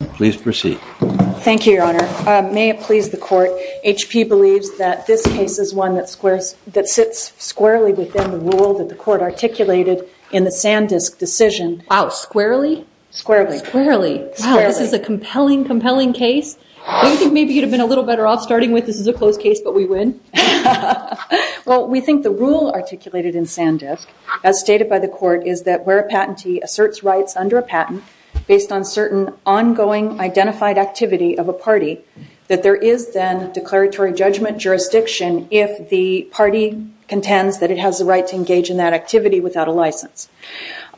May it please the Court, H.P. believes that this case is one that sits squarely within the rule that the Court articulated in the Sandisk decision. Wow, squarely? Squarely. Squarely. Squarely. Wow, this is a compelling, compelling case. Do you think maybe you'd have been a little better off starting with this is a closed case but we win? Well, we think the rule articulated in Sandisk as stated by the Court is that where a patentee asserts rights under a patent based on certain ongoing identified activity of a party that there is then declaratory judgment jurisdiction if the party contends that it has the right to engage in that activity without a license.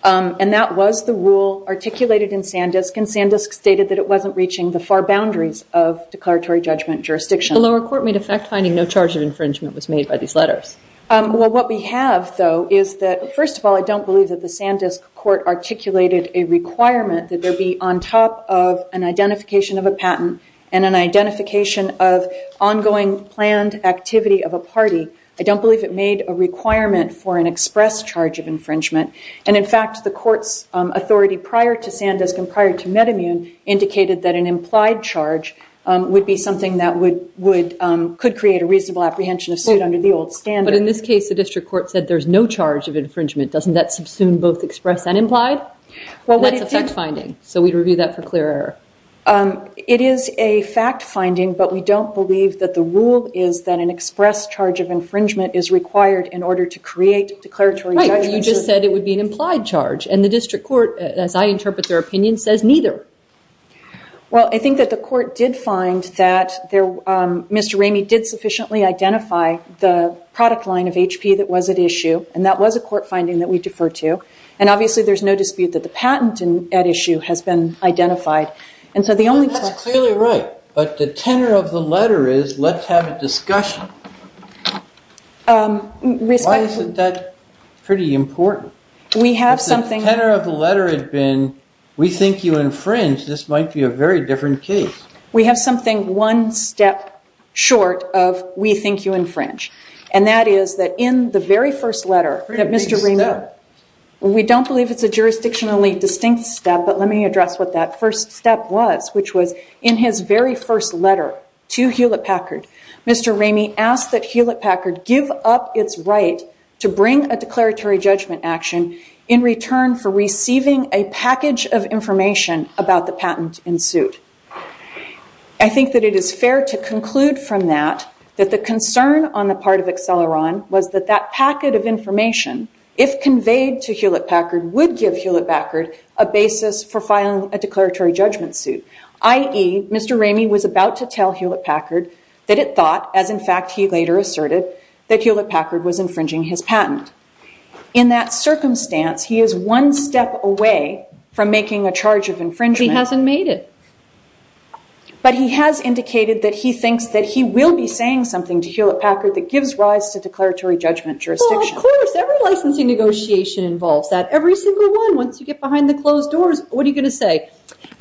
And that was the rule articulated in Sandisk and Sandisk stated that it wasn't reaching the far boundaries of declaratory judgment jurisdiction. Did the lower court made effect finding no charge of infringement was made by these letters? Well, what we have though is that first of all I don't believe that the Sandisk court articulated a requirement that there be on top of an identification of a patent and an identification of ongoing planned activity of a party. I don't believe it made a requirement for an express charge of infringement and in fact the court's authority prior to Sandisk and prior to MedImmune indicated that an implied charge would be something that could create a reasonable apprehension of suit under the old standard. But in this case the district court said there's no charge of infringement. Doesn't that subsume both express and implied? That's effect finding. So we'd review that for clear error. It is a fact finding but we don't believe that the rule is that an express charge of infringement is required in order to create declaratory judgment. You just said it would be an implied charge and the district court as I interpret their opinion says neither. Well, I think that the court did find that Mr. Ramey did sufficiently identify the product line of HP that was at issue and that was a court finding that we defer to. And obviously there's no dispute that the patent at issue has been identified. That's clearly right. But the tenor of the letter is let's have a discussion. Why isn't that pretty important? If the tenor of the letter had been we think you infringe, this might be a very different case. And that is that in the very first letter that Mr. Ramey, we don't believe it's a jurisdictionally distinct step but let me address what that first step was, which was in his very first letter to Hewlett Packard, Mr. Ramey asked that Hewlett Packard give up its right to bring a declaratory judgment action in return for receiving a package of information about the patent in suit. I think that it is fair to conclude from that that the concern on the part of Acceleron was that that packet of information, if conveyed to Hewlett Packard, would give Hewlett Packard a basis for filing a declaratory judgment suit. I.e., Mr. Ramey was about to tell Hewlett Packard that it thought, as in fact he later asserted, that Hewlett Packard was infringing his patent. In that circumstance, he is one step away from making a charge of infringement. Because he hasn't made it. But he has indicated that he thinks that he will be saying something to Hewlett Packard that gives rise to declaratory judgment jurisdiction. Well, of course. Every licensing negotiation involves that. Every single one. Once you get behind the closed doors, what are you going to say?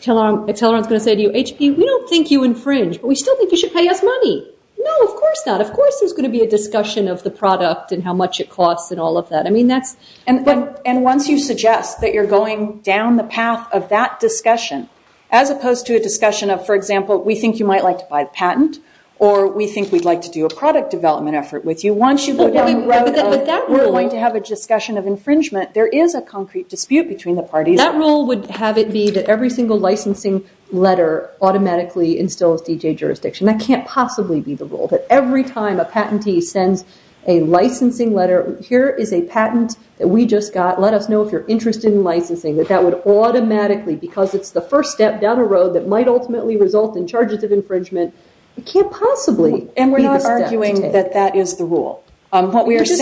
Acceleron is going to say to you, HP, we don't think you infringe, but we still think you should pay us money. No, of course not. Of course there is going to be a discussion of the product and how much it costs and all of that. And once you suggest that you're going down the path of that discussion, as opposed to a discussion of, for example, we think you might like to buy the patent, or we think we'd like to do a product development effort with you, once you go down the road of, we're going to have a discussion of infringement, there is a concrete dispute between the parties. That rule would have it be that every single licensing letter automatically instills DJ jurisdiction. That can't possibly be the rule. That every time a patentee sends a licensing letter, here is a patent that we just got, let us know if you're interested in licensing. That that would automatically, because it's the first step down a road that might ultimately result in charges of infringement, it can't possibly be the step to take. And we're not arguing that that is the rule. You just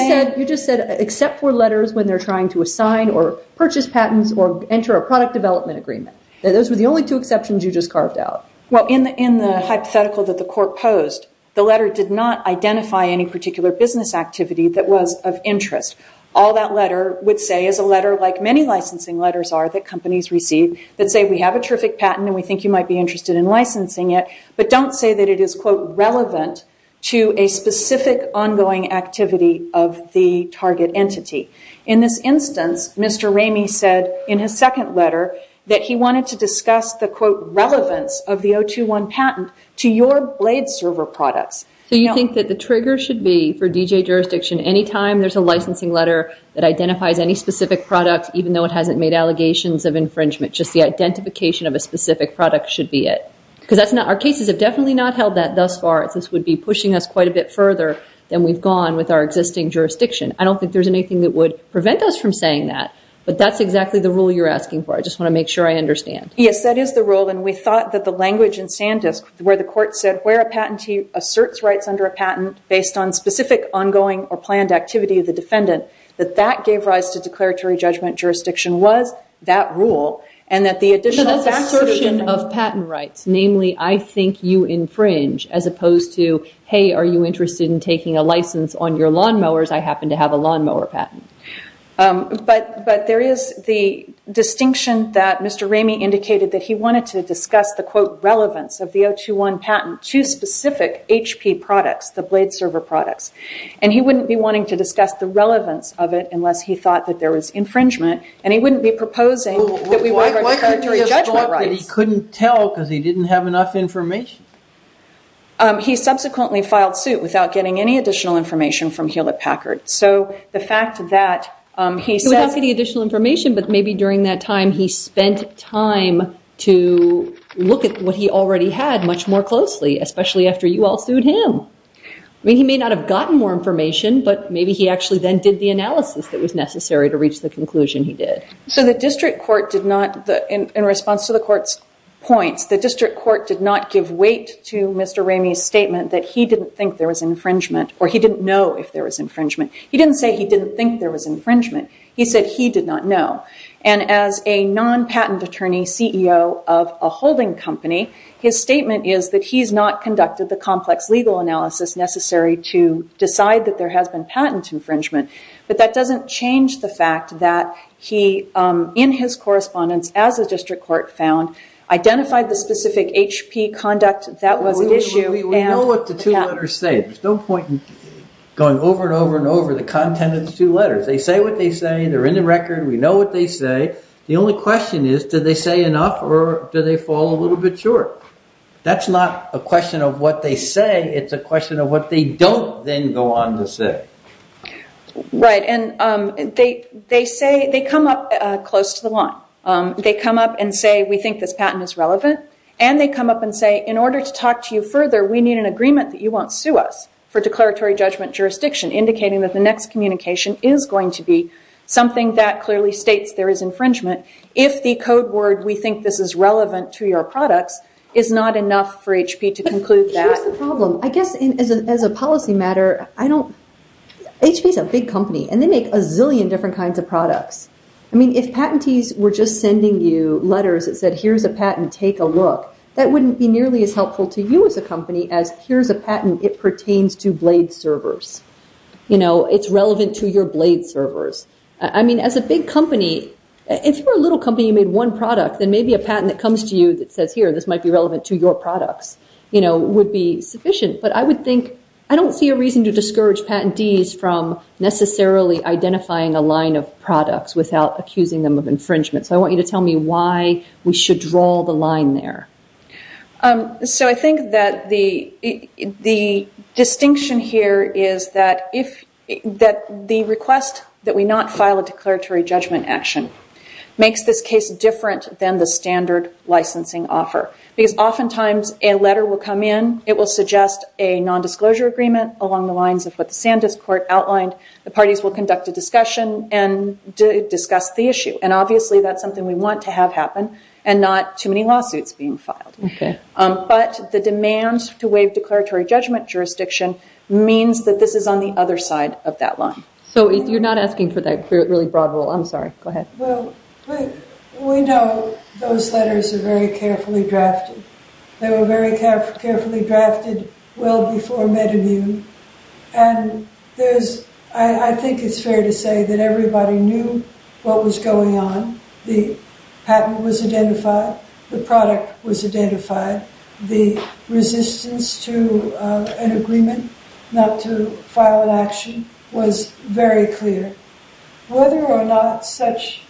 said, except for letters when they're trying to assign or purchase patents or enter a product development agreement. Those were the only two exceptions you just carved out. Well, in the hypothetical that the court posed, the letter did not identify any particular business activity that was of interest. All that letter would say is a letter, like many licensing letters are that companies receive, that say we have a terrific patent and we think you might be interested in licensing it, but don't say that it is, quote, relevant to a specific ongoing activity of the target entity. In this instance, Mr. Ramey said in his second letter that he wanted to discuss the, quote, relevance of the 021 patent to your blade server products. So you think that the trigger should be for DJ jurisdiction, any time there's a licensing letter that identifies any specific product, even though it hasn't made allegations of infringement, just the identification of a specific product should be it. Because our cases have definitely not held that thus far. This would be pushing us quite a bit further than we've gone with our existing jurisdiction. I don't think there's anything that would prevent us from saying that. But that's exactly the rule you're asking for. I just want to make sure I understand. Yes, that is the rule. And we thought that the language in Sandisk, where the court said, where a patentee asserts rights under a patent based on specific ongoing or planned activity of the defendant, that that gave rise to declaratory judgment jurisdiction was that rule. And that the additional fact search of patent rights, namely, I think you infringe, as opposed to, hey, are you interested in taking a license on your lawnmowers? I happen to have a lawnmower patent. But there is the distinction that Mr. Ramey indicated that he wanted to discuss the, quote, relevance of the 021 patent to specific HP products, the blade server products. And he wouldn't be wanting to discuss the relevance of it unless he thought that there was infringement. And he wouldn't be proposing that we write our declaratory judgment rights. Why couldn't he have thought that he couldn't tell because he didn't have enough information? He subsequently filed suit without getting any additional information from Hewlett Packard. So the fact that he said- Without getting additional information, but maybe during that time, he spent time to look at what he already had much more closely, especially after you all sued him. I mean, he may not have gotten more information, but maybe he actually then did the analysis that was necessary to reach the conclusion he did. So the district court did not, in response to the court's points, the district court did not give weight to Mr. Ramey's statement that he didn't think there was infringement or he didn't know if there was infringement. He didn't say he didn't think there was infringement. He said he did not know. And as a non-patent attorney CEO of a holding company, his statement is that he's not conducted the complex legal analysis necessary to decide that there has been patent infringement. But that doesn't change the fact that he, in his correspondence as a district court found, identified the specific HP conduct that was at issue. We know what the two letters say. There's no point in going over and over and over the content of the two letters. They say what they say. They're in the record. We know what they say. The only question is, do they say enough or do they fall a little bit short? That's not a question of what they say. It's a question of what they don't then go on to say. Right. And they come up close to the line. They come up and say, we think this patent is relevant. And they come up and say, in order to talk to you further, we need an agreement that you won't sue us for declaratory judgment jurisdiction, indicating that the next communication is going to be something that clearly states there is infringement. If the code word, we think this is relevant to your products, is not enough for HP to conclude that. Here's the problem. I guess as a policy matter, HP's a big company, and they make a zillion different kinds of products. I mean, if patentees were just sending you letters that said, here's a patent, take a look, that wouldn't be nearly as helpful to you as a company as, here's a patent, it pertains to blade servers. You know, it's relevant to your blade servers. I mean, as a big company, if you're a little company, you made one product, then maybe a patent that comes to you that says, here, this might be relevant to your products, you know, would be sufficient. But I would think, I don't see a reason to discourage patentees from necessarily identifying a line of products without accusing them of infringement. So I want you to tell me why we should draw the line there. So I think that the distinction here is that the request that we not file a declaratory judgment action makes this case different than the standard licensing offer. Because oftentimes, a letter will come in, it will suggest a non-disclosure agreement along the lines of what the Sandus Court outlined, the parties will conduct a discussion and discuss the issue. And obviously, that's something we want to have happen, and not too many lawsuits being filed. But the demand to waive declaratory judgment jurisdiction means that this is on the other side of that line. So you're not asking for that really broad rule, I'm sorry, go ahead. Well, we know those letters are very carefully drafted. They were very carefully drafted well before MedImmune. And I think it's fair to say that everybody knew what was going on. The patent was identified, the product was identified. The resistance to an agreement not to file an action was very clear. Whether or not such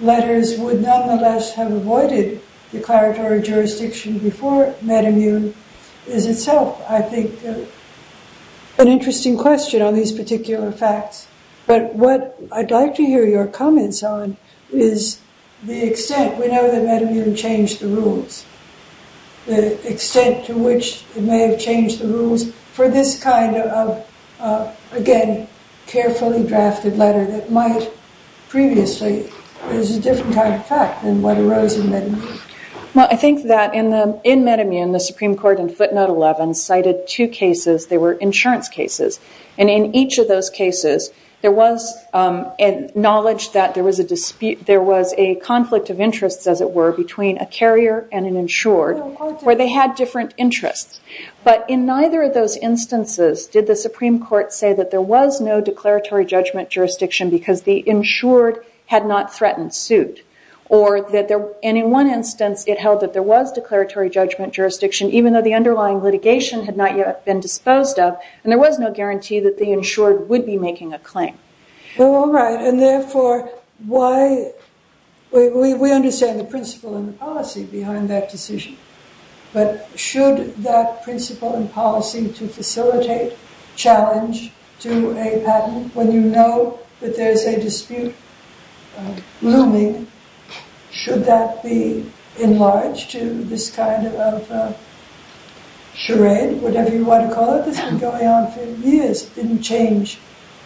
letters would nonetheless have avoided declaratory jurisdiction before MedImmune is itself, I think, an interesting question on these particular facts. But what I'd like to hear your comments on is the extent, we know that MedImmune changed the rules. The extent to which it may have changed the rules for this kind of, again, carefully drafted letter that might previously, there's a different kind of fact than what arose in MedImmune. Well, I think that in MedImmune, the Supreme Court in footnote 11 cited two cases. They were insurance cases. And in each of those cases, there was knowledge that there was a conflict of interests, as it were, between a carrier and an insured, where they had different interests. But in neither of those instances did the Supreme Court say that there was no declaratory judgment jurisdiction because the insured had not threatened suit. And in one instance, it held that there was declaratory judgment jurisdiction, even though the underlying litigation had not yet been disposed of. And there was no guarantee that the insured would be making a claim. All right. And therefore, we understand the principle and the policy behind that decision. But should that principle and policy to facilitate challenge to a patent, when you know that there is a dispute looming, should that be enlarged to this kind of charade, whatever you want to call it? This has been going on for years. It didn't change.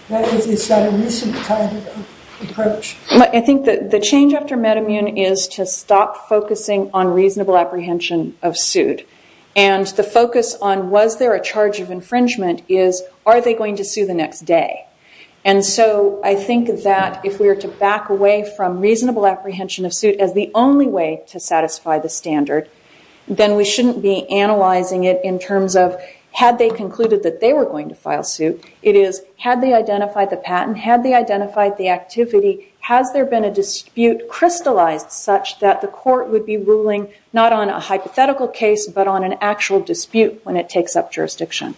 It's not a recent kind of approach. I think that the change after MedImmune is to stop focusing on reasonable apprehension of suit. And the focus on was there a charge of infringement is, are they going to sue the next day? And so I think that if we are to back away from reasonable apprehension of suit as the only way to satisfy the standard, then we shouldn't be analyzing it in terms of had they concluded that they were going to file suit. It is, had they identified the patent? Had they identified the activity? Has there been a dispute crystallized such that the court would be ruling not on a hypothetical case, but on an actual dispute when it takes up jurisdiction?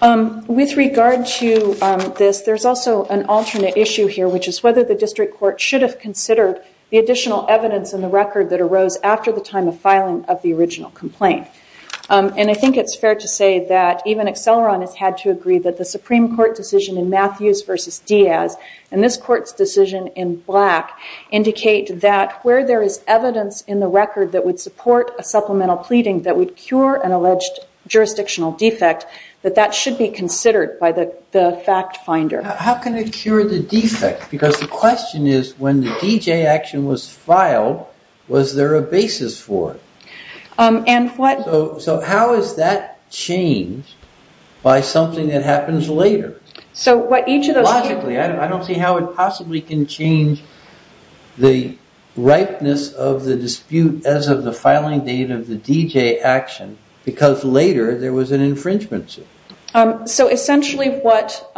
With regard to this, there's also an alternate issue here, which is whether the district court should have considered the additional evidence in the record that arose after the time of filing of the original complaint. And I think it's fair to say that even Acceleron has had to agree that the Supreme Court decision in Matthews versus Diaz, and this court's decision in Black, indicate that where there is evidence in the record that would support a supplemental pleading that would cure an alleged jurisdictional defect, that that should be considered by the fact finder. How can it cure the defect? Because the question is, when the DJ action was filed, was there a basis for it? And what... So how is that changed by something that happens later? So what each of those... I don't see how it possibly can change the ripeness of the dispute as of the filing date of the DJ action, because later there was an infringement suit. So essentially what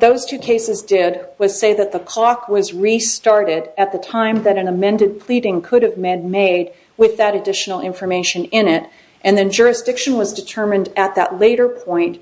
those two cases did was say that the clock was restarted at the time that an amended pleading could have been made with that additional information in it, and then jurisdiction was determined at that later point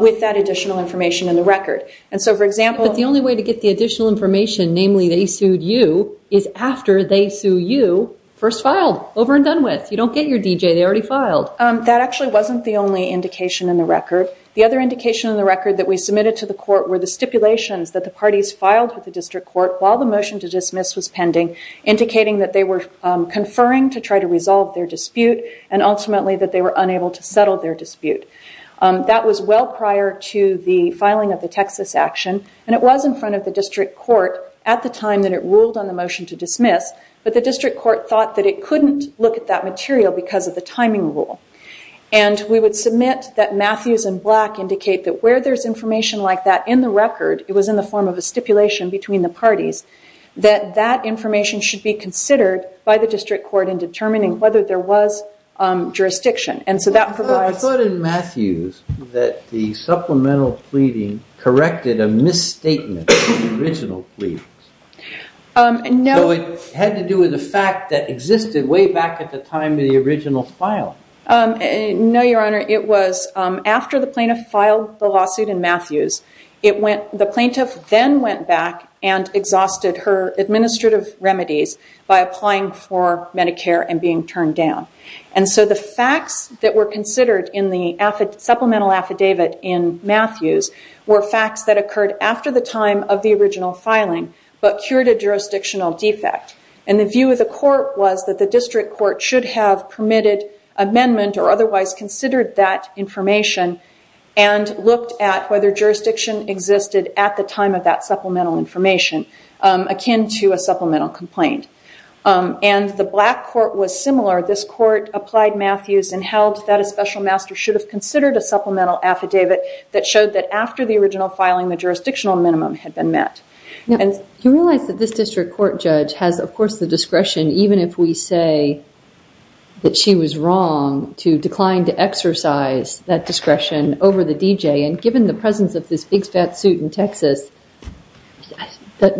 with that additional information in the record. And so, for example... But the only way to get the additional information, namely they sued you, is after they sue you first filed, over and done with. You don't get your DJ. They already filed. That actually wasn't the only indication in the record. The other indication in the record that we submitted to the court were the stipulations that the parties filed with the district court while the motion to dismiss was pending, indicating that they were conferring to try to resolve their dispute, and ultimately that they were unable to settle their dispute. That was well prior to the filing of the Texas action, and it was in front of the district court at the time that it ruled on the motion to dismiss, but the district court thought that it couldn't look at that material because of the timing rule. And we would submit that Matthews and Black indicate that where there's information like that in the record, it was in the form of a stipulation between the parties, that that information should be considered by the district court in determining whether there was jurisdiction. I thought in Matthews that the supplemental pleading corrected a misstatement of the original pleadings. So it had to do with the fact that existed way back at the time of the original file. No, Your Honor, it was after the plaintiff filed the lawsuit in Matthews, the plaintiff then went back and exhausted her administrative remedies by applying for Medicare and being turned down. And so the facts that were considered in the supplemental affidavit in Matthews were facts that occurred after the time of the original filing, but cured a jurisdictional defect. And the view of the court was that the district court should have permitted amendment or otherwise considered that information and looked at whether jurisdiction existed at the time of that supplemental information, akin to a supplemental complaint. And the Black court was similar. This court applied Matthews and held that a special master should have considered a supplemental affidavit that showed that after the original filing, the jurisdictional minimum had been met. You realize that this district court judge has, of course, the discretion, even if we say that she was wrong to decline to exercise that discretion over the DJ. And given the presence of this big, fat suit in Texas, what's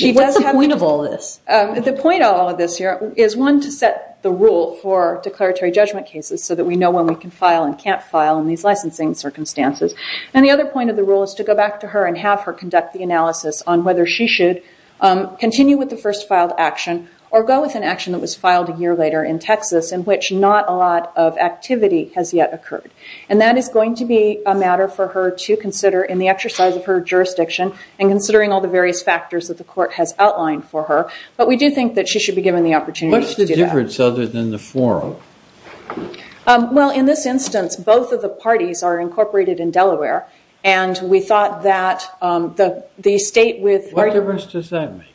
the point of all this? The point of all of this here is, one, to set the rule for declaratory judgment cases so that we know when we can file and can't file in these licensing circumstances. And the other point of the rule is to go back to her and have her conduct the analysis on whether she should continue with the first filed action or go with an action that was filed a year later in Texas in which not a lot of activity has yet occurred. And that is going to be a matter for her to consider in the exercise of her jurisdiction and considering all the various factors that the court has outlined for her. But we do think that she should be given the opportunity to do that. What's the difference other than the forum? Well, in this instance, both of the parties are incorporated in Delaware, and we thought that the state with What difference does that make?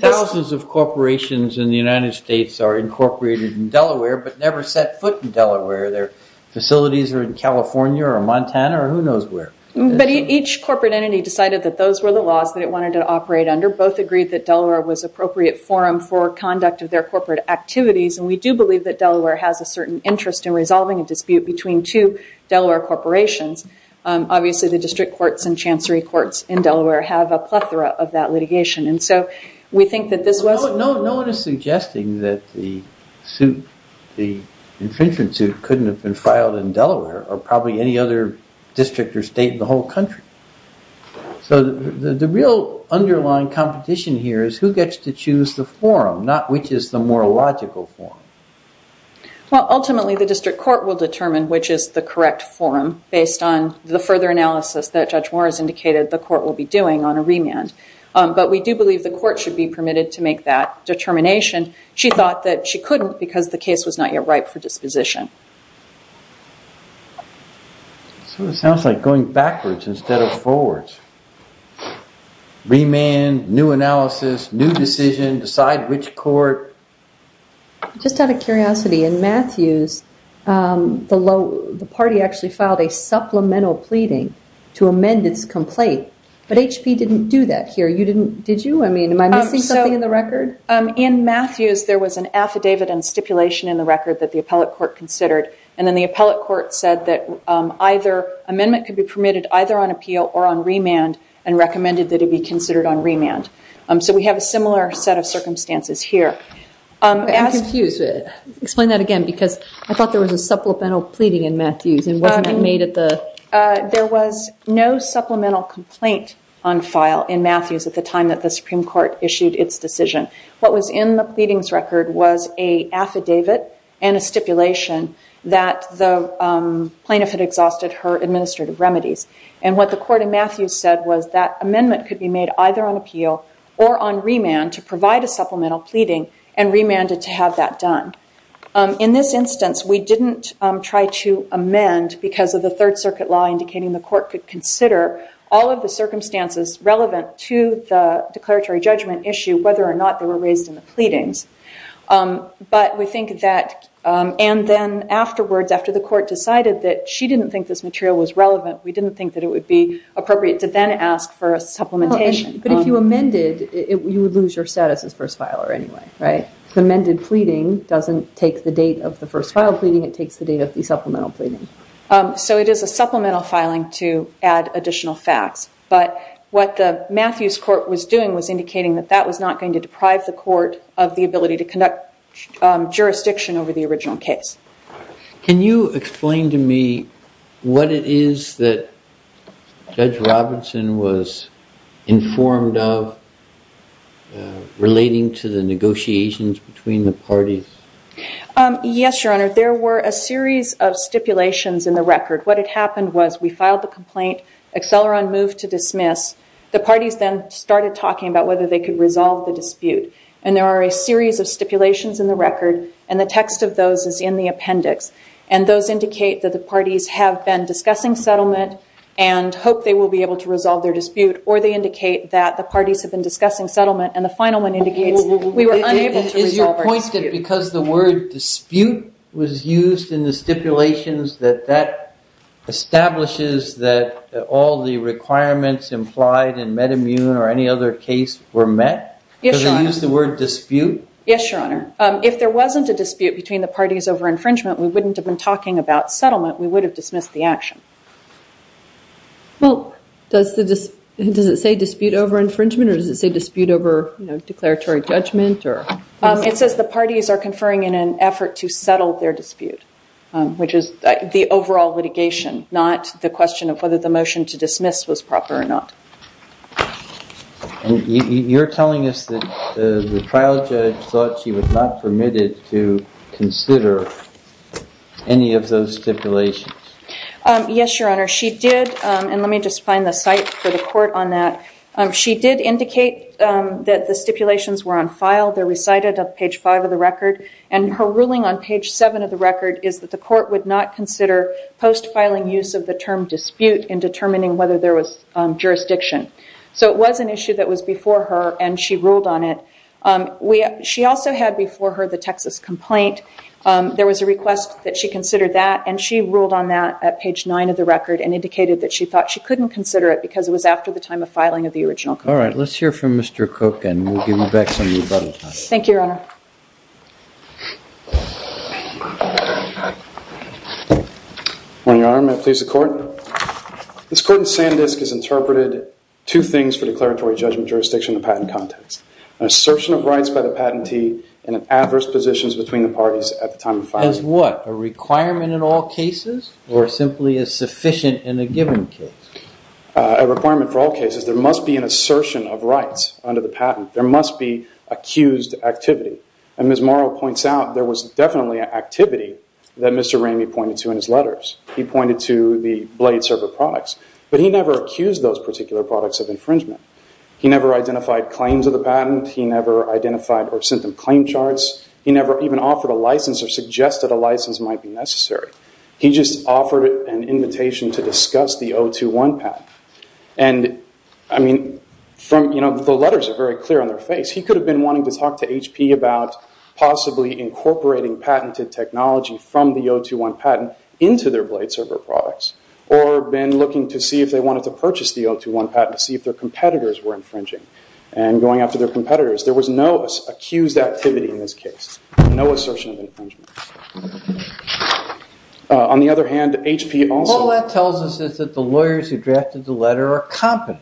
Thousands of corporations in the United States are incorporated in Delaware but never set foot in Delaware. Their facilities are in California or Montana or who knows where. But each corporate entity decided that those were the laws that it wanted to operate under. Both agreed that Delaware was appropriate forum for conduct of their corporate activities. And we do believe that Delaware has a certain interest in resolving a dispute between two Delaware corporations. Obviously, the district courts and chancery courts in Delaware have a plethora of that litigation. And so we think that this was No one is suggesting that the infringement suit couldn't have been filed in Delaware or probably any other district or state in the whole country. So the real underlying competition here is who gets to choose the forum, not which is the more logical forum. Well, ultimately, the district court will determine which is the correct forum based on the further analysis that Judge Morris indicated the court will be doing on a remand. But we do believe the court should be permitted to make that determination. She thought that she couldn't because the case was not yet ripe for disposition. So it sounds like going backwards instead of forwards. Remand, new analysis, new decision, decide which court. Just out of curiosity, in Matthews, the party actually filed a supplemental pleading to amend its complaint. But HP didn't do that here. Did you? I mean, am I missing something in the record? In Matthews, there was an affidavit and stipulation in the record that the appellate court considered. And then the appellate court said that either amendment could be permitted either on appeal or on remand and recommended that it be considered on remand. So we have a similar set of circumstances here. I'm confused. Explain that again, because I thought there was a supplemental pleading in Matthews and wasn't that made at the. There was no supplemental complaint on file in Matthews at the time that the Supreme Court issued its decision. What was in the pleadings record was a affidavit and a stipulation that the plaintiff had exhausted her administrative remedies. And what the court in Matthews said was that amendment could be made either on appeal or on remand to provide a supplemental pleading and remanded to have that done. In this instance, we didn't try to amend because of the Third Circuit law indicating the court could consider all of the circumstances relevant to the declaratory judgment issue, whether or not they were raised in the pleadings. But we think that and then afterwards, after the court decided that she didn't think this material was relevant, we didn't think that it would be appropriate to then ask for a supplementation. But if you amended, you would lose your status as first filer anyway, right? The amended pleading doesn't take the date of the first file pleading. It takes the date of the supplemental pleading. So it is a supplemental filing to add additional facts. But what the Matthews court was doing was indicating that that was not going to deprive the court of the ability to conduct jurisdiction over the original case. Can you explain to me what it is that Judge Robinson was informed of relating to the negotiations between the parties? Yes, Your Honor. There were a series of stipulations in the record. What had happened was we filed the complaint. Acceleron moved to dismiss. The parties then started talking about whether they could resolve the dispute. And there are a series of stipulations in the record. And the text of those is in the appendix. And those indicate that the parties have been discussing settlement and hope they will be able to resolve their dispute. Or they indicate that the parties have been discussing settlement. And the final one indicates we were unable to resolve our dispute. Is your point that because the word dispute was used in the stipulations, that that establishes that all the requirements implied in MedImmune or any other case were met? Does it use the word dispute? Yes, Your Honor. If there wasn't a dispute between the parties over infringement, we wouldn't have been talking about settlement. We would have dismissed the action. Well, does it say dispute over infringement or does it say dispute over declaratory judgment? It says the parties are conferring in an effort to settle their dispute, which is the overall litigation, not the question of whether the motion to dismiss was proper or not. And you're telling us that the trial judge thought she was not permitted to consider any of those stipulations. Yes, Your Honor. She did. And let me just find the site for the court on that. She did indicate that the stipulations were on file. They're recited on page five of the record. And her ruling on page seven of the record is that the court would not consider post-filing use of the term dispute in determining whether there was jurisdiction. So it was an issue that was before her and she ruled on it. She also had before her the Texas complaint. There was a request that she considered that and she ruled on that at page nine of the record and indicated that she thought she couldn't consider it because it was after the time of filing of the original complaint. All right. Let's hear from Mr. Cook and we'll give you back some rebuttal time. Thank you, Your Honor. Your Honor, may I please the court? This court in Sandisk has interpreted two things for declaratory judgment jurisdiction in the patent context. An assertion of rights by the patentee and adverse positions between the parties at the time of filing. As what? A requirement in all cases or simply as sufficient in a given case? A requirement for all cases. There must be an assertion of rights under the patent. There must be accused activity. And Ms. Morrow points out there was definitely activity that Mr. Ramey pointed to in his letters. He pointed to the blade server products. But he never accused those particular products of infringement. He never identified claims of the patent. He never identified or sent them claim charts. He never even offered a license or suggested a license might be necessary. He just offered an invitation to discuss the 021 patent. And, I mean, the letters are very clear on their face. He could have been wanting to talk to HP about possibly incorporating patented technology from the 021 patent into their blade server products or been looking to see if they wanted to purchase the 021 patent to see if their competitors were infringing and going after their competitors. There was no accused activity in this case, no assertion of infringement. On the other hand, HP also- All that tells us is that the lawyers who drafted the letter are competent.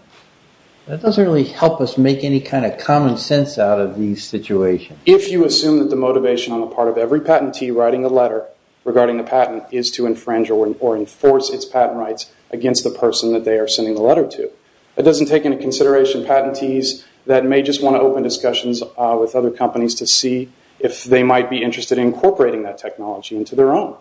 That doesn't really help us make any kind of common sense out of these situations. If you assume that the motivation on the part of every patentee writing a letter regarding the patent is to infringe or enforce its patent rights against the person that they are sending the letter to, that doesn't take into consideration patentees that may just want to open discussions with other companies to see if they might be interested in incorporating that technology into their own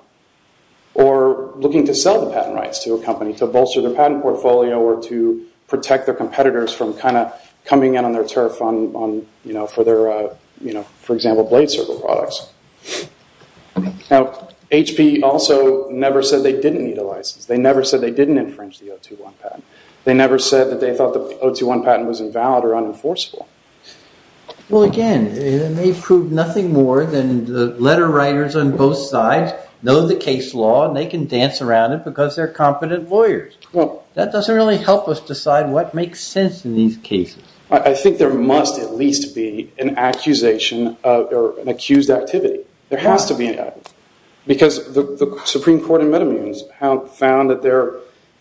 or looking to sell the patent rights to a company to bolster their patent portfolio or to protect their competitors from kind of coming in on their turf for their, for example, blade server products. Now, HP also never said they didn't need a license. They never said they didn't infringe the 021 patent. They never said that they thought the 021 patent was invalid or unenforceable. Well, again, it may prove nothing more than the letter writers on both sides know the case law and they can dance around it because they're competent lawyers. That doesn't really help us decide what makes sense in these cases. I think there must at least be an accusation or an accused activity. There has to be an accusation. Because the Supreme Court in Metamunes found that there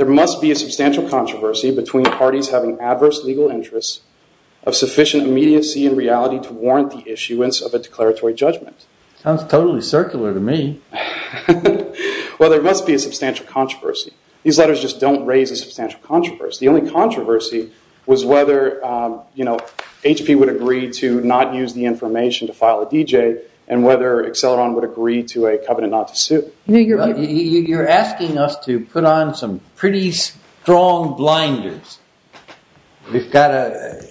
must be a substantial controversy between the parties having adverse legal interests of sufficient immediacy and reality to warrant the issuance of a declaratory judgment. Sounds totally circular to me. Well, there must be a substantial controversy. These letters just don't raise a substantial controversy. The only controversy was whether HP would agree to not use the information to file a DJ and whether Acceleron would agree to a covenant not to sue. You're asking us to put on some pretty strong blinders. We've got a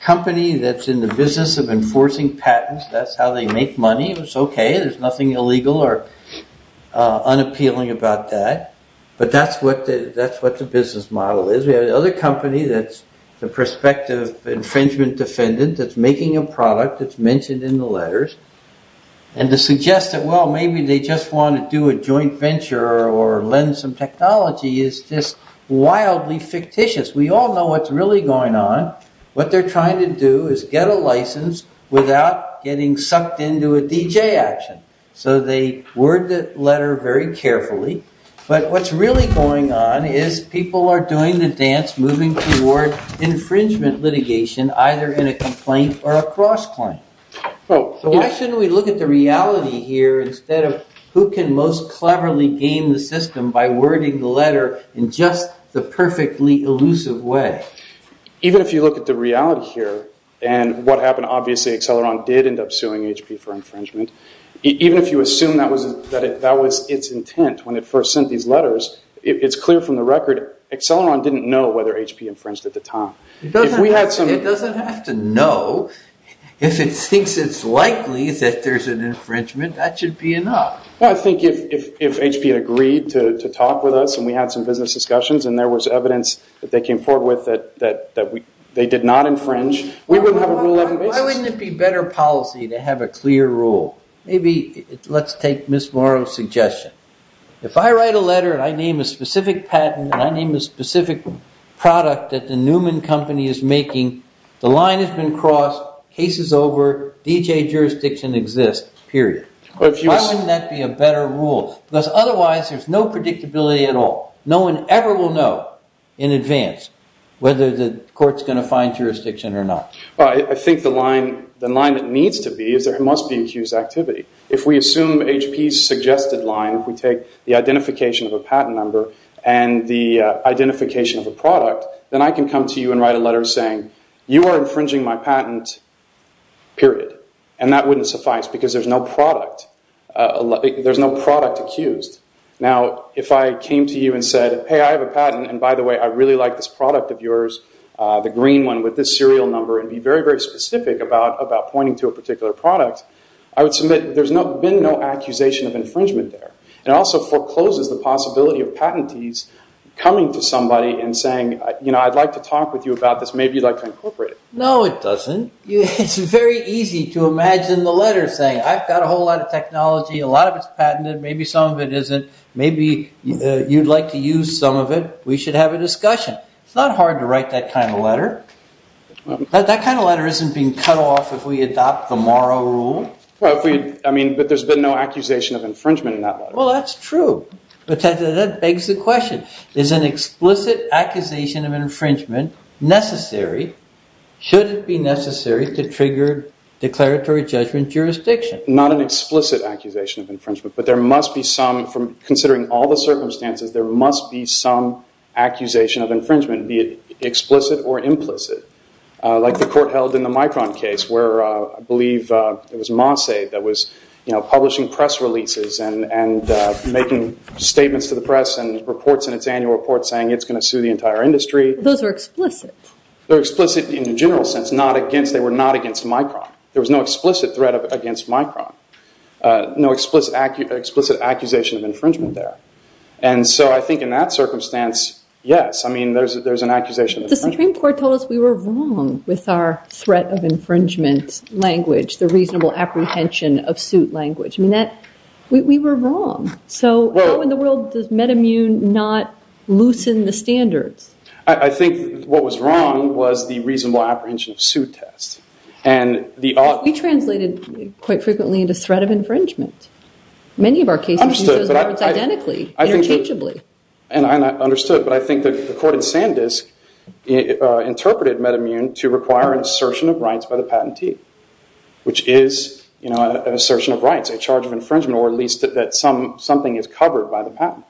company that's in the business of enforcing patents. That's how they make money. It's OK. There's nothing illegal or unappealing about that. But that's what the business model is. We have another company that's the prospective infringement defendant that's making a product that's mentioned in the letters. And to suggest that, well, maybe they just want to do a joint venture or lend some technology is just wildly fictitious. We all know what's really going on. What they're trying to do is get a license without getting sucked into a DJ action. So they word the letter very carefully. But what's really going on is people are doing the dance, moving toward infringement litigation, either in a complaint or a cross-claim. So why shouldn't we look at the reality here instead of who can most cleverly game the system by wording the letter in just the perfectly elusive way? Even if you look at the reality here and what happened, obviously Acceleron did end up suing HP for infringement. Even if you assume that was its intent when it first sent these letters, it's clear from the record Acceleron didn't know whether HP infringed at the time. It doesn't have to know. If it thinks it's likely that there's an infringement, that should be enough. I think if HP had agreed to talk with us and we had some business discussions and there was evidence that they came forward with that they did not infringe, we wouldn't have a rule out in business. Why wouldn't it be better policy to have a clear rule? Maybe let's take Ms. Morrow's suggestion. If I write a letter and I name a specific patent and I name a specific product that the Newman Company is making, the line has been crossed, case is over, DJ jurisdiction exists, period. Why wouldn't that be a better rule? Because otherwise there's no predictability at all. No one ever will know in advance whether the court's going to find jurisdiction or not. I think the line that needs to be is there must be accused activity. If we assume HP's suggested line, if we take the identification of a patent number and the identification of a product, then I can come to you and write a letter saying, you are infringing my patent, period, and that wouldn't suffice because there's no product accused. Now, if I came to you and said, hey, I have a patent, and by the way I really like this product of yours, the green one with this serial number, and be very, very specific about pointing to a particular product, I would submit there's been no accusation of infringement there. It also forecloses the possibility of patentees coming to somebody and saying, you know, I'd like to talk with you about this, maybe you'd like to incorporate it. No, it doesn't. It's very easy to imagine the letter saying, I've got a whole lot of technology, a lot of it's patented, maybe some of it isn't, maybe you'd like to use some of it, we should have a discussion. It's not hard to write that kind of letter. That kind of letter isn't being cut off if we adopt the Morrow Rule. Well, I mean, but there's been no accusation of infringement in that letter. Well, that's true, but that begs the question. Is an explicit accusation of infringement necessary? Should it be necessary to trigger declaratory judgment jurisdiction? Not an explicit accusation of infringement, but there must be some, considering all the circumstances, there must be some accusation of infringement, be it explicit or implicit, like the court held in the Micron case, where I believe it was Mossade that was publishing press releases and making statements to the press and reports in its annual report saying it's going to sue the entire industry. Those are explicit. They're explicit in a general sense. They were not against Micron. There was no explicit threat against Micron, no explicit accusation of infringement there. And so I think in that circumstance, yes, I mean, there's an accusation of infringement. The Supreme Court told us we were wrong with our threat of infringement language, the reasonable apprehension of suit language. I mean, we were wrong. So how in the world does MedImmune not loosen the standards? I think what was wrong was the reasonable apprehension of suit test. We translated quite frequently into threat of infringement. Many of our cases use those words identically, interchangeably. And I understood, but I think the court in Sandisk interpreted MedImmune to require an assertion of rights by the patentee, which is an assertion of rights, a charge of infringement, or at least that something is covered by the patent.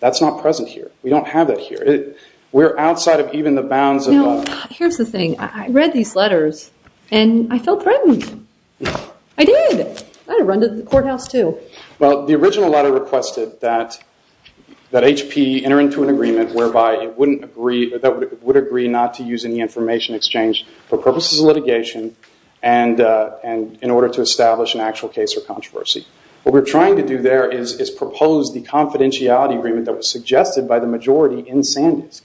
That's not present here. We don't have that here. We're outside of even the bounds of that. Well, here's the thing. I read these letters, and I felt threatened. I did. I'd have run to the courthouse, too. Well, the original letter requested that HP enter into an agreement whereby it would agree not to use any information exchange for purposes of litigation and in order to establish an actual case or controversy. What we're trying to do there is propose the confidentiality agreement that was suggested by the majority in Sandisk.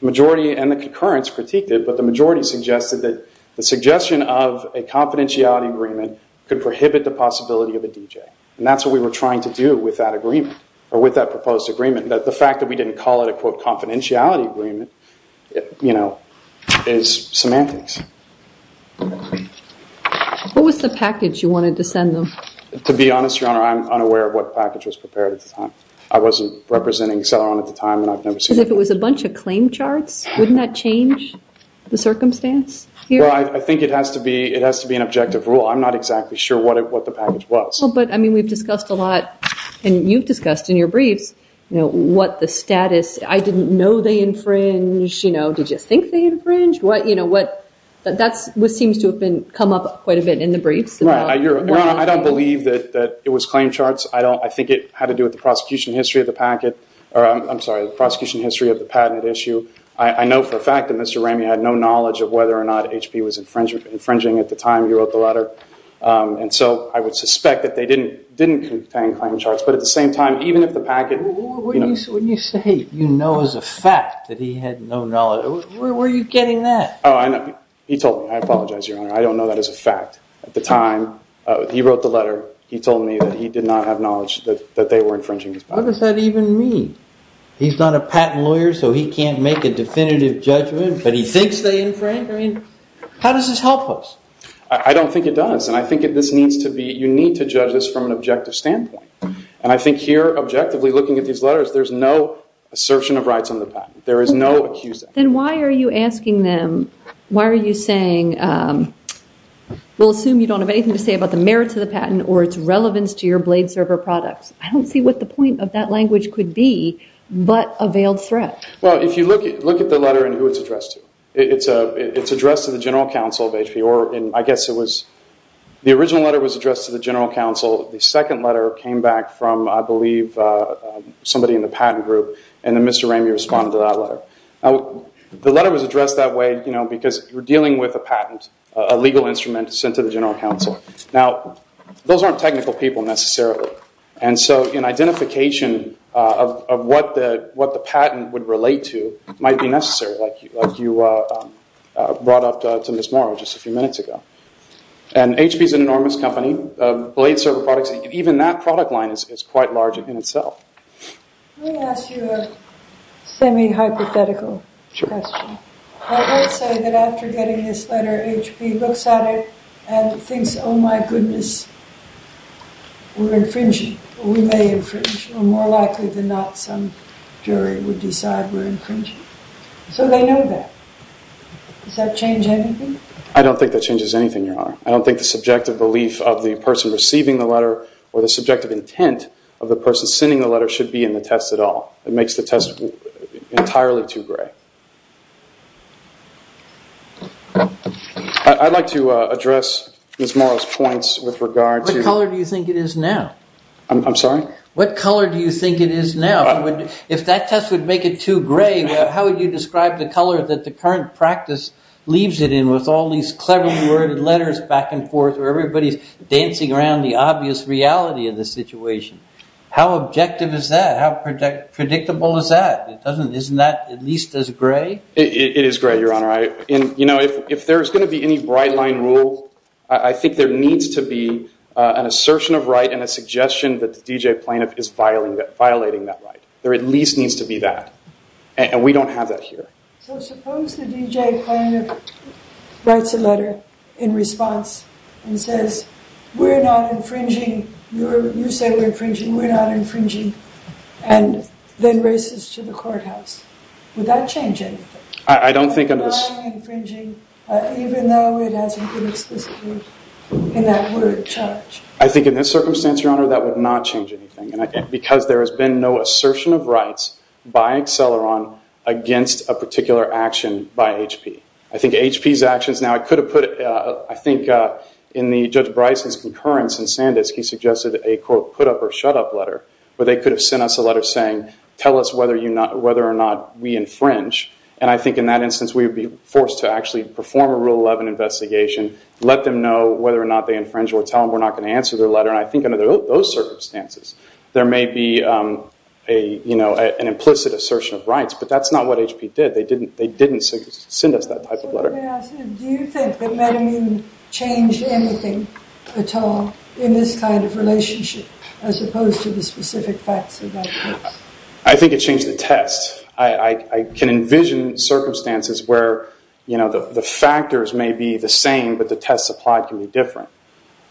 The majority and the concurrence critiqued it, but the majority suggested that the suggestion of a confidentiality agreement could prohibit the possibility of a DJ. And that's what we were trying to do with that agreement or with that proposed agreement, that the fact that we didn't call it a, quote, confidentiality agreement, you know, is semantics. What was the package you wanted to send them? To be honest, Your Honor, I'm unaware of what package was prepared at the time. I wasn't representing Celeron at the time, and I've never seen it. If it was a bunch of claim charts, wouldn't that change the circumstance here? Well, I think it has to be an objective rule. I'm not exactly sure what the package was. Well, but, I mean, we've discussed a lot, and you've discussed in your briefs, you know, what the status, I didn't know they infringed, you know, did you think they infringed? You know, that seems to have come up quite a bit in the briefs. Right. Your Honor, I don't believe that it was claim charts. I think it had to do with the prosecution history of the packet, or I'm sorry, the prosecution history of the patent issue. I know for a fact that Mr. Ramey had no knowledge of whether or not HP was infringing at the time he wrote the letter, and so I would suspect that they didn't contain claim charts, but at the same time, even if the packet, you know. When you say you know as a fact that he had no knowledge, where are you getting that? Oh, I know. He told me. I apologize, Your Honor. I don't know that as a fact. At the time he wrote the letter, he told me that he did not have knowledge that they were infringing his patent. What does that even mean? He's not a patent lawyer, so he can't make a definitive judgment, but he thinks they infringed? I mean, how does this help us? I don't think it does, and I think this needs to be, you need to judge this from an objective standpoint, and I think here objectively looking at these letters, there's no assertion of rights on the patent. There is no accusing. Then why are you asking them, why are you saying, we'll assume you don't have anything to say about the merits of the patent or its relevance to your blade server products. I don't see what the point of that language could be but a veiled threat. Well, if you look at the letter and who it's addressed to, it's addressed to the general counsel of HP, or I guess it was the original letter was addressed to the general counsel. The second letter came back from, I believe, somebody in the patent group, and then Mr. Ramey responded to that letter. The letter was addressed that way because you're dealing with a patent, a legal instrument sent to the general counsel. Now, those aren't technical people necessarily, and so an identification of what the patent would relate to might be necessary, like you brought up to Ms. Morrow just a few minutes ago. And HP is an enormous company. Blade server products, even that product line is quite large in itself. Let me ask you a semi-hypothetical question. I would say that after getting this letter, HP looks at it and thinks, oh, my goodness, we're infringing, or we may infringe, or more likely than not some jury would decide we're infringing. So they know that. Does that change anything? I don't think that changes anything, Your Honor. I don't think the subjective belief of the person receiving the letter or the subjective intent of the person sending the letter should be in the test at all. It makes the test entirely too gray. I'd like to address Ms. Morrow's points with regard to What color do you think it is now? I'm sorry? What color do you think it is now? If that test would make it too gray, how would you describe the color that the current practice leaves it in with all these cleverly worded letters back and forth where everybody's dancing around the obvious reality of the situation? How objective is that? How predictable is that? Isn't that at least as gray? It is gray, Your Honor. If there's going to be any bright line rule, I think there needs to be an assertion of right and a suggestion that the D.J. plaintiff is violating that right. There at least needs to be that. And we don't have that here. So suppose the D.J. plaintiff writes a letter in response and says, we're not infringing. You say we're infringing. We're not infringing. And then races to the courthouse. Would that change anything? I don't think it would. Violating, infringing, even though it hasn't been explicitly in that word charged. I think in this circumstance, Your Honor, that would not change anything. Because there has been no assertion of rights by Acceleron against a particular action by HP. I think HP's actions now, I could have put, I think in Judge Bryson's concurrence in Sandisk, he suggested a, quote, put up or shut up letter. But they could have sent us a letter saying, tell us whether or not we infringe. And I think in that instance, we would be forced to actually perform a Rule 11 investigation, let them know whether or not they infringe or tell them we're not going to answer their letter. And I think under those circumstances, there may be an implicit assertion of rights. But that's not what HP did. They didn't send us that type of letter. Do you think that metamine changed anything at all in this kind of relationship as opposed to the specific facts of that case? I think it changed the test. I can envision circumstances where the factors may be the same, but the tests applied can be different.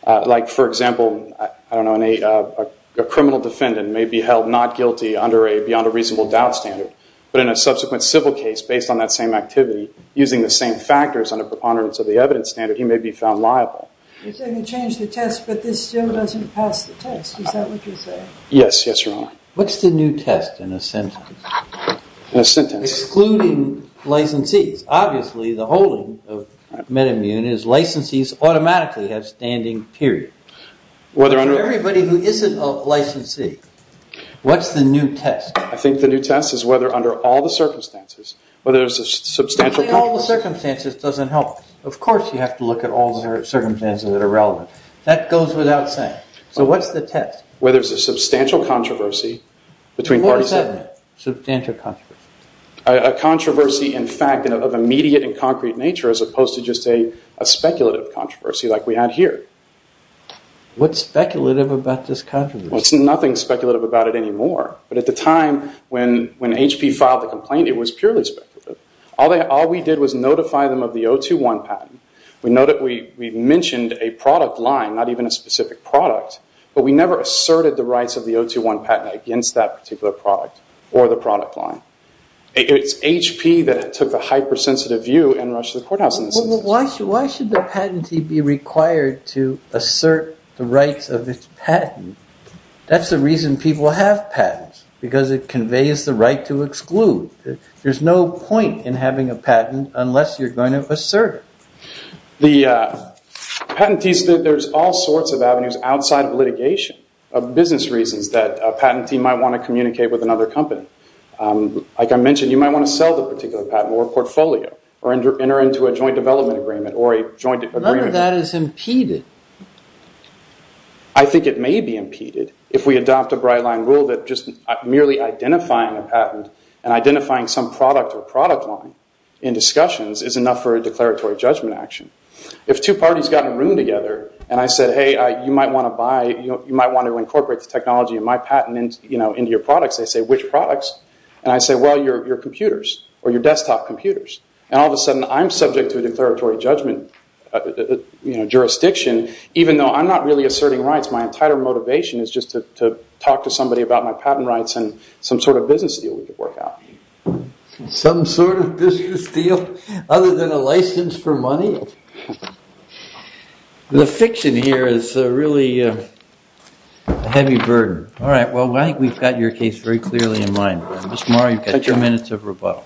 Like, for example, I don't know, a criminal defendant may be held not guilty under a beyond a reasonable doubt standard. But in a subsequent civil case, based on that same activity, using the same factors under preponderance of the evidence standard, he may be found liable. You're saying it changed the test, but this still doesn't pass the test. Is that what you're saying? Yes, yes, Your Honor. What's the new test in a sentence? In a sentence? Excluding licensees. Obviously, the holding of metamine is licensees automatically have standing, period. For everybody who isn't a licensee, what's the new test? I think the new test is whether under all the circumstances, whether there's a substantial controversy. All the circumstances doesn't help. Of course you have to look at all the circumstances that are relevant. That goes without saying. So what's the test? Whether there's a substantial controversy between parties. What does that mean, substantial controversy? A controversy, in fact, of immediate and concrete nature as opposed to just a speculative controversy like we had here. What's speculative about this controversy? Well, there's nothing speculative about it anymore. But at the time when HP filed the complaint, it was purely speculative. All we did was notify them of the 021 patent. We mentioned a product line, not even a specific product, but we never asserted the rights of the 021 patent against that particular product or the product line. It's HP that took a hypersensitive view and rushed to the courthouse. Why should the patentee be required to assert the rights of its patent? That's the reason people have patents, because it conveys the right to exclude. There's no point in having a patent unless you're going to assert it. The patentees, there's all sorts of avenues outside of litigation, of business reasons that a patentee might want to communicate with another company. Like I mentioned, you might want to sell the particular patent or portfolio or enter into a joint development agreement or a joint agreement. None of that is impeded. I think it may be impeded if we adopt a bright-line rule that just merely identifying a patent and identifying some product or product line in discussions is enough for a declaratory judgment action. If two parties got in a room together and I said, hey, you might want to incorporate the technology in my patent into your products, they say, which products? I say, well, your computers or your desktop computers. All of a sudden, I'm subject to a declaratory judgment jurisdiction, even though I'm not really asserting rights. My entire motivation is just to talk to somebody about my patent rights and some sort of business deal we could work out. Some sort of business deal other than a license for money? The fiction here is really a heavy burden. All right. Well, I think we've got your case very clearly in mind. Ms. Morrow, you've got two minutes of rebuttal.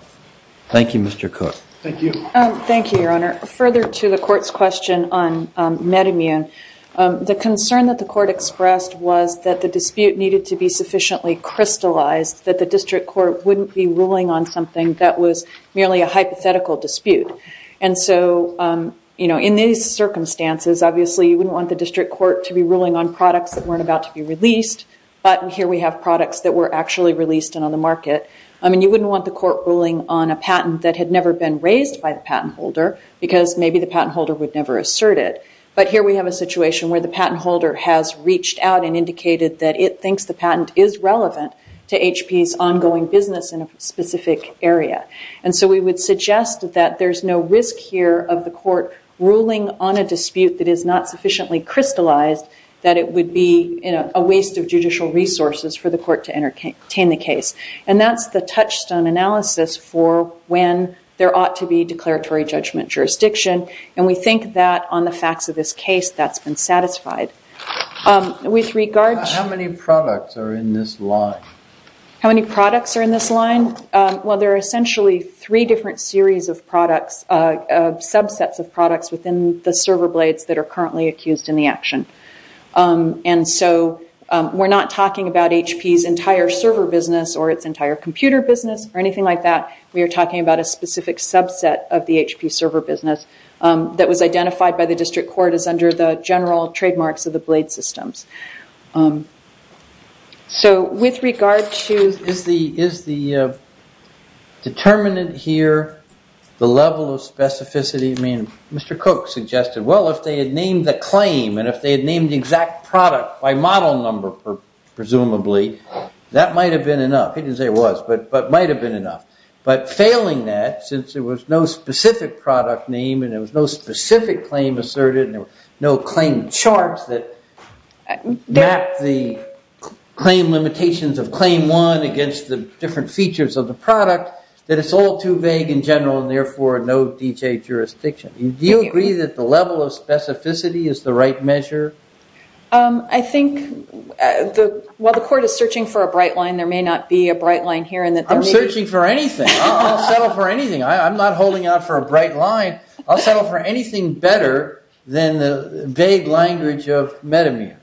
Thank you, Mr. Cook. Thank you. Thank you, Your Honor. Further to the court's question on MedImmune, the concern that the court expressed was that the dispute needed to be sufficiently crystallized that the district court wouldn't be ruling on something that was merely a hypothetical dispute. And so in these circumstances, obviously you wouldn't want the district court to be ruling on products that weren't about to be released, but here we have products that were actually released and on the market. You wouldn't want the court ruling on a patent that had never been raised by the patent holder because maybe the patent holder would never assert it. But here we have a situation where the patent holder has reached out and indicated that it thinks the patent is relevant to HP's ongoing business in a specific area. And so we would suggest that there's no risk here of the court ruling on a dispute that is not sufficiently crystallized that it would be a waste of judicial resources for the court to entertain the case. And that's the touchstone analysis for when there ought to be declaratory judgment jurisdiction. And we think that on the facts of this case, that's been satisfied. How many products are in this line? How many products are in this line? Well, there are essentially three different series of products, subsets of products within the server blades that are currently accused in the action. And so we're not talking about HP's entire server business or its entire computer business or anything like that. We are talking about a specific subset of the HP server business that was identified by the district court as under the general trademarks of the blade systems. So with regard to... Is the determinant here the level of specificity? I mean, Mr. Koch suggested, well, if they had named the claim and if they had named the exact product by model number, presumably, that might have been enough. He didn't say it was, but it might have been enough. But failing that, since there was no specific product name and there was no specific claim asserted and there were no claims charged, that mapped the claim limitations of claim one against the different features of the product, that it's all too vague in general and therefore no DHA jurisdiction. Do you agree that the level of specificity is the right measure? I think while the court is searching for a bright line, there may not be a bright line here. I'm searching for anything. I'll settle for anything. I'm not holding out for a bright line. I'll settle for anything better than the vague language of metamere.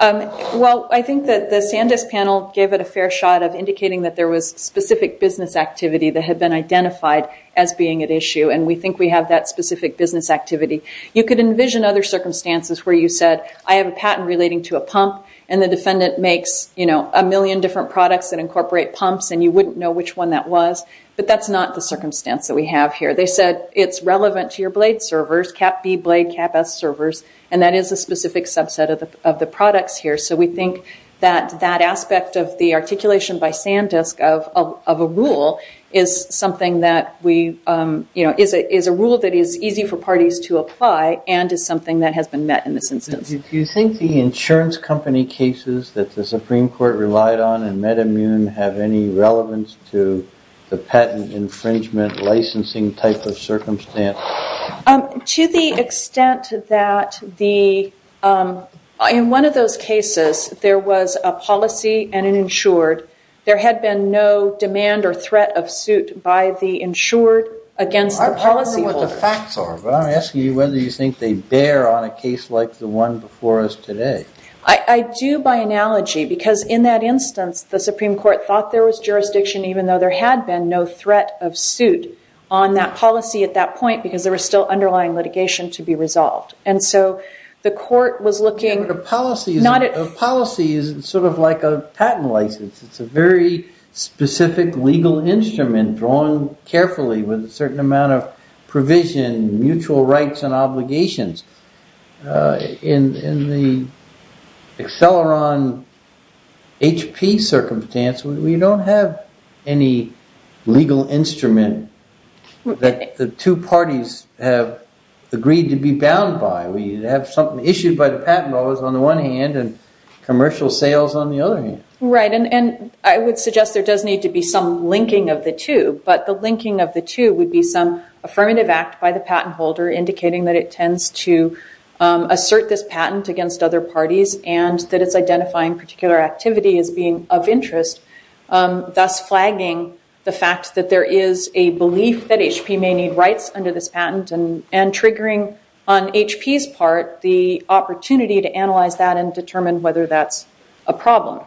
Well, I think that the Sandisk panel gave it a fair shot of indicating that there was specific business activity that had been identified as being at issue and we think we have that specific business activity. You could envision other circumstances where you said, I have a patent relating to a pump and the defendant makes a million different products that incorporate pumps and you wouldn't know which one that was. But that's not the circumstance that we have here. They said it's relevant to your blade servers, Cap B blade, Cap S servers, and that is a specific subset of the products here. So we think that that aspect of the articulation by Sandisk of a rule is something that we, you know, is a rule that is easy for parties to apply and is something that has been met in this instance. Do you think the insurance company cases that the Supreme Court relied on have any relevance to the patent infringement licensing type of circumstance? To the extent that in one of those cases there was a policy and an insured, there had been no demand or threat of suit by the insured against the policyholder. I don't know what the facts are, but I'm asking you whether you think they bear on a case like the one before us today. I do by analogy because in that instance, the Supreme Court thought there was jurisdiction even though there had been no threat of suit on that policy at that point because there was still underlying litigation to be resolved. And so the court was looking... The policy is sort of like a patent license. It's a very specific legal instrument drawn carefully with a certain amount of provision, mutual rights and obligations. In the Acceleron HP circumstance, we don't have any legal instrument that the two parties have agreed to be bound by. We have something issued by the patent office on the one hand and commercial sales on the other hand. Right. And I would suggest there does need to be some linking of the two, but the linking of the two would be some affirmative act by the patent holder indicating that it tends to assert this patent against other parties and that it's identifying particular activity as being of interest, thus flagging the fact that there is a belief that HP may need rights under this patent and triggering on HP's part the opportunity to analyze that and determine whether that's a problem.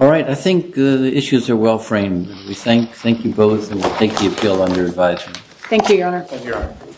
All right. I think the issues are well framed. We thank you both and we'll take the appeal on your advisement. Thank you, Your Honor.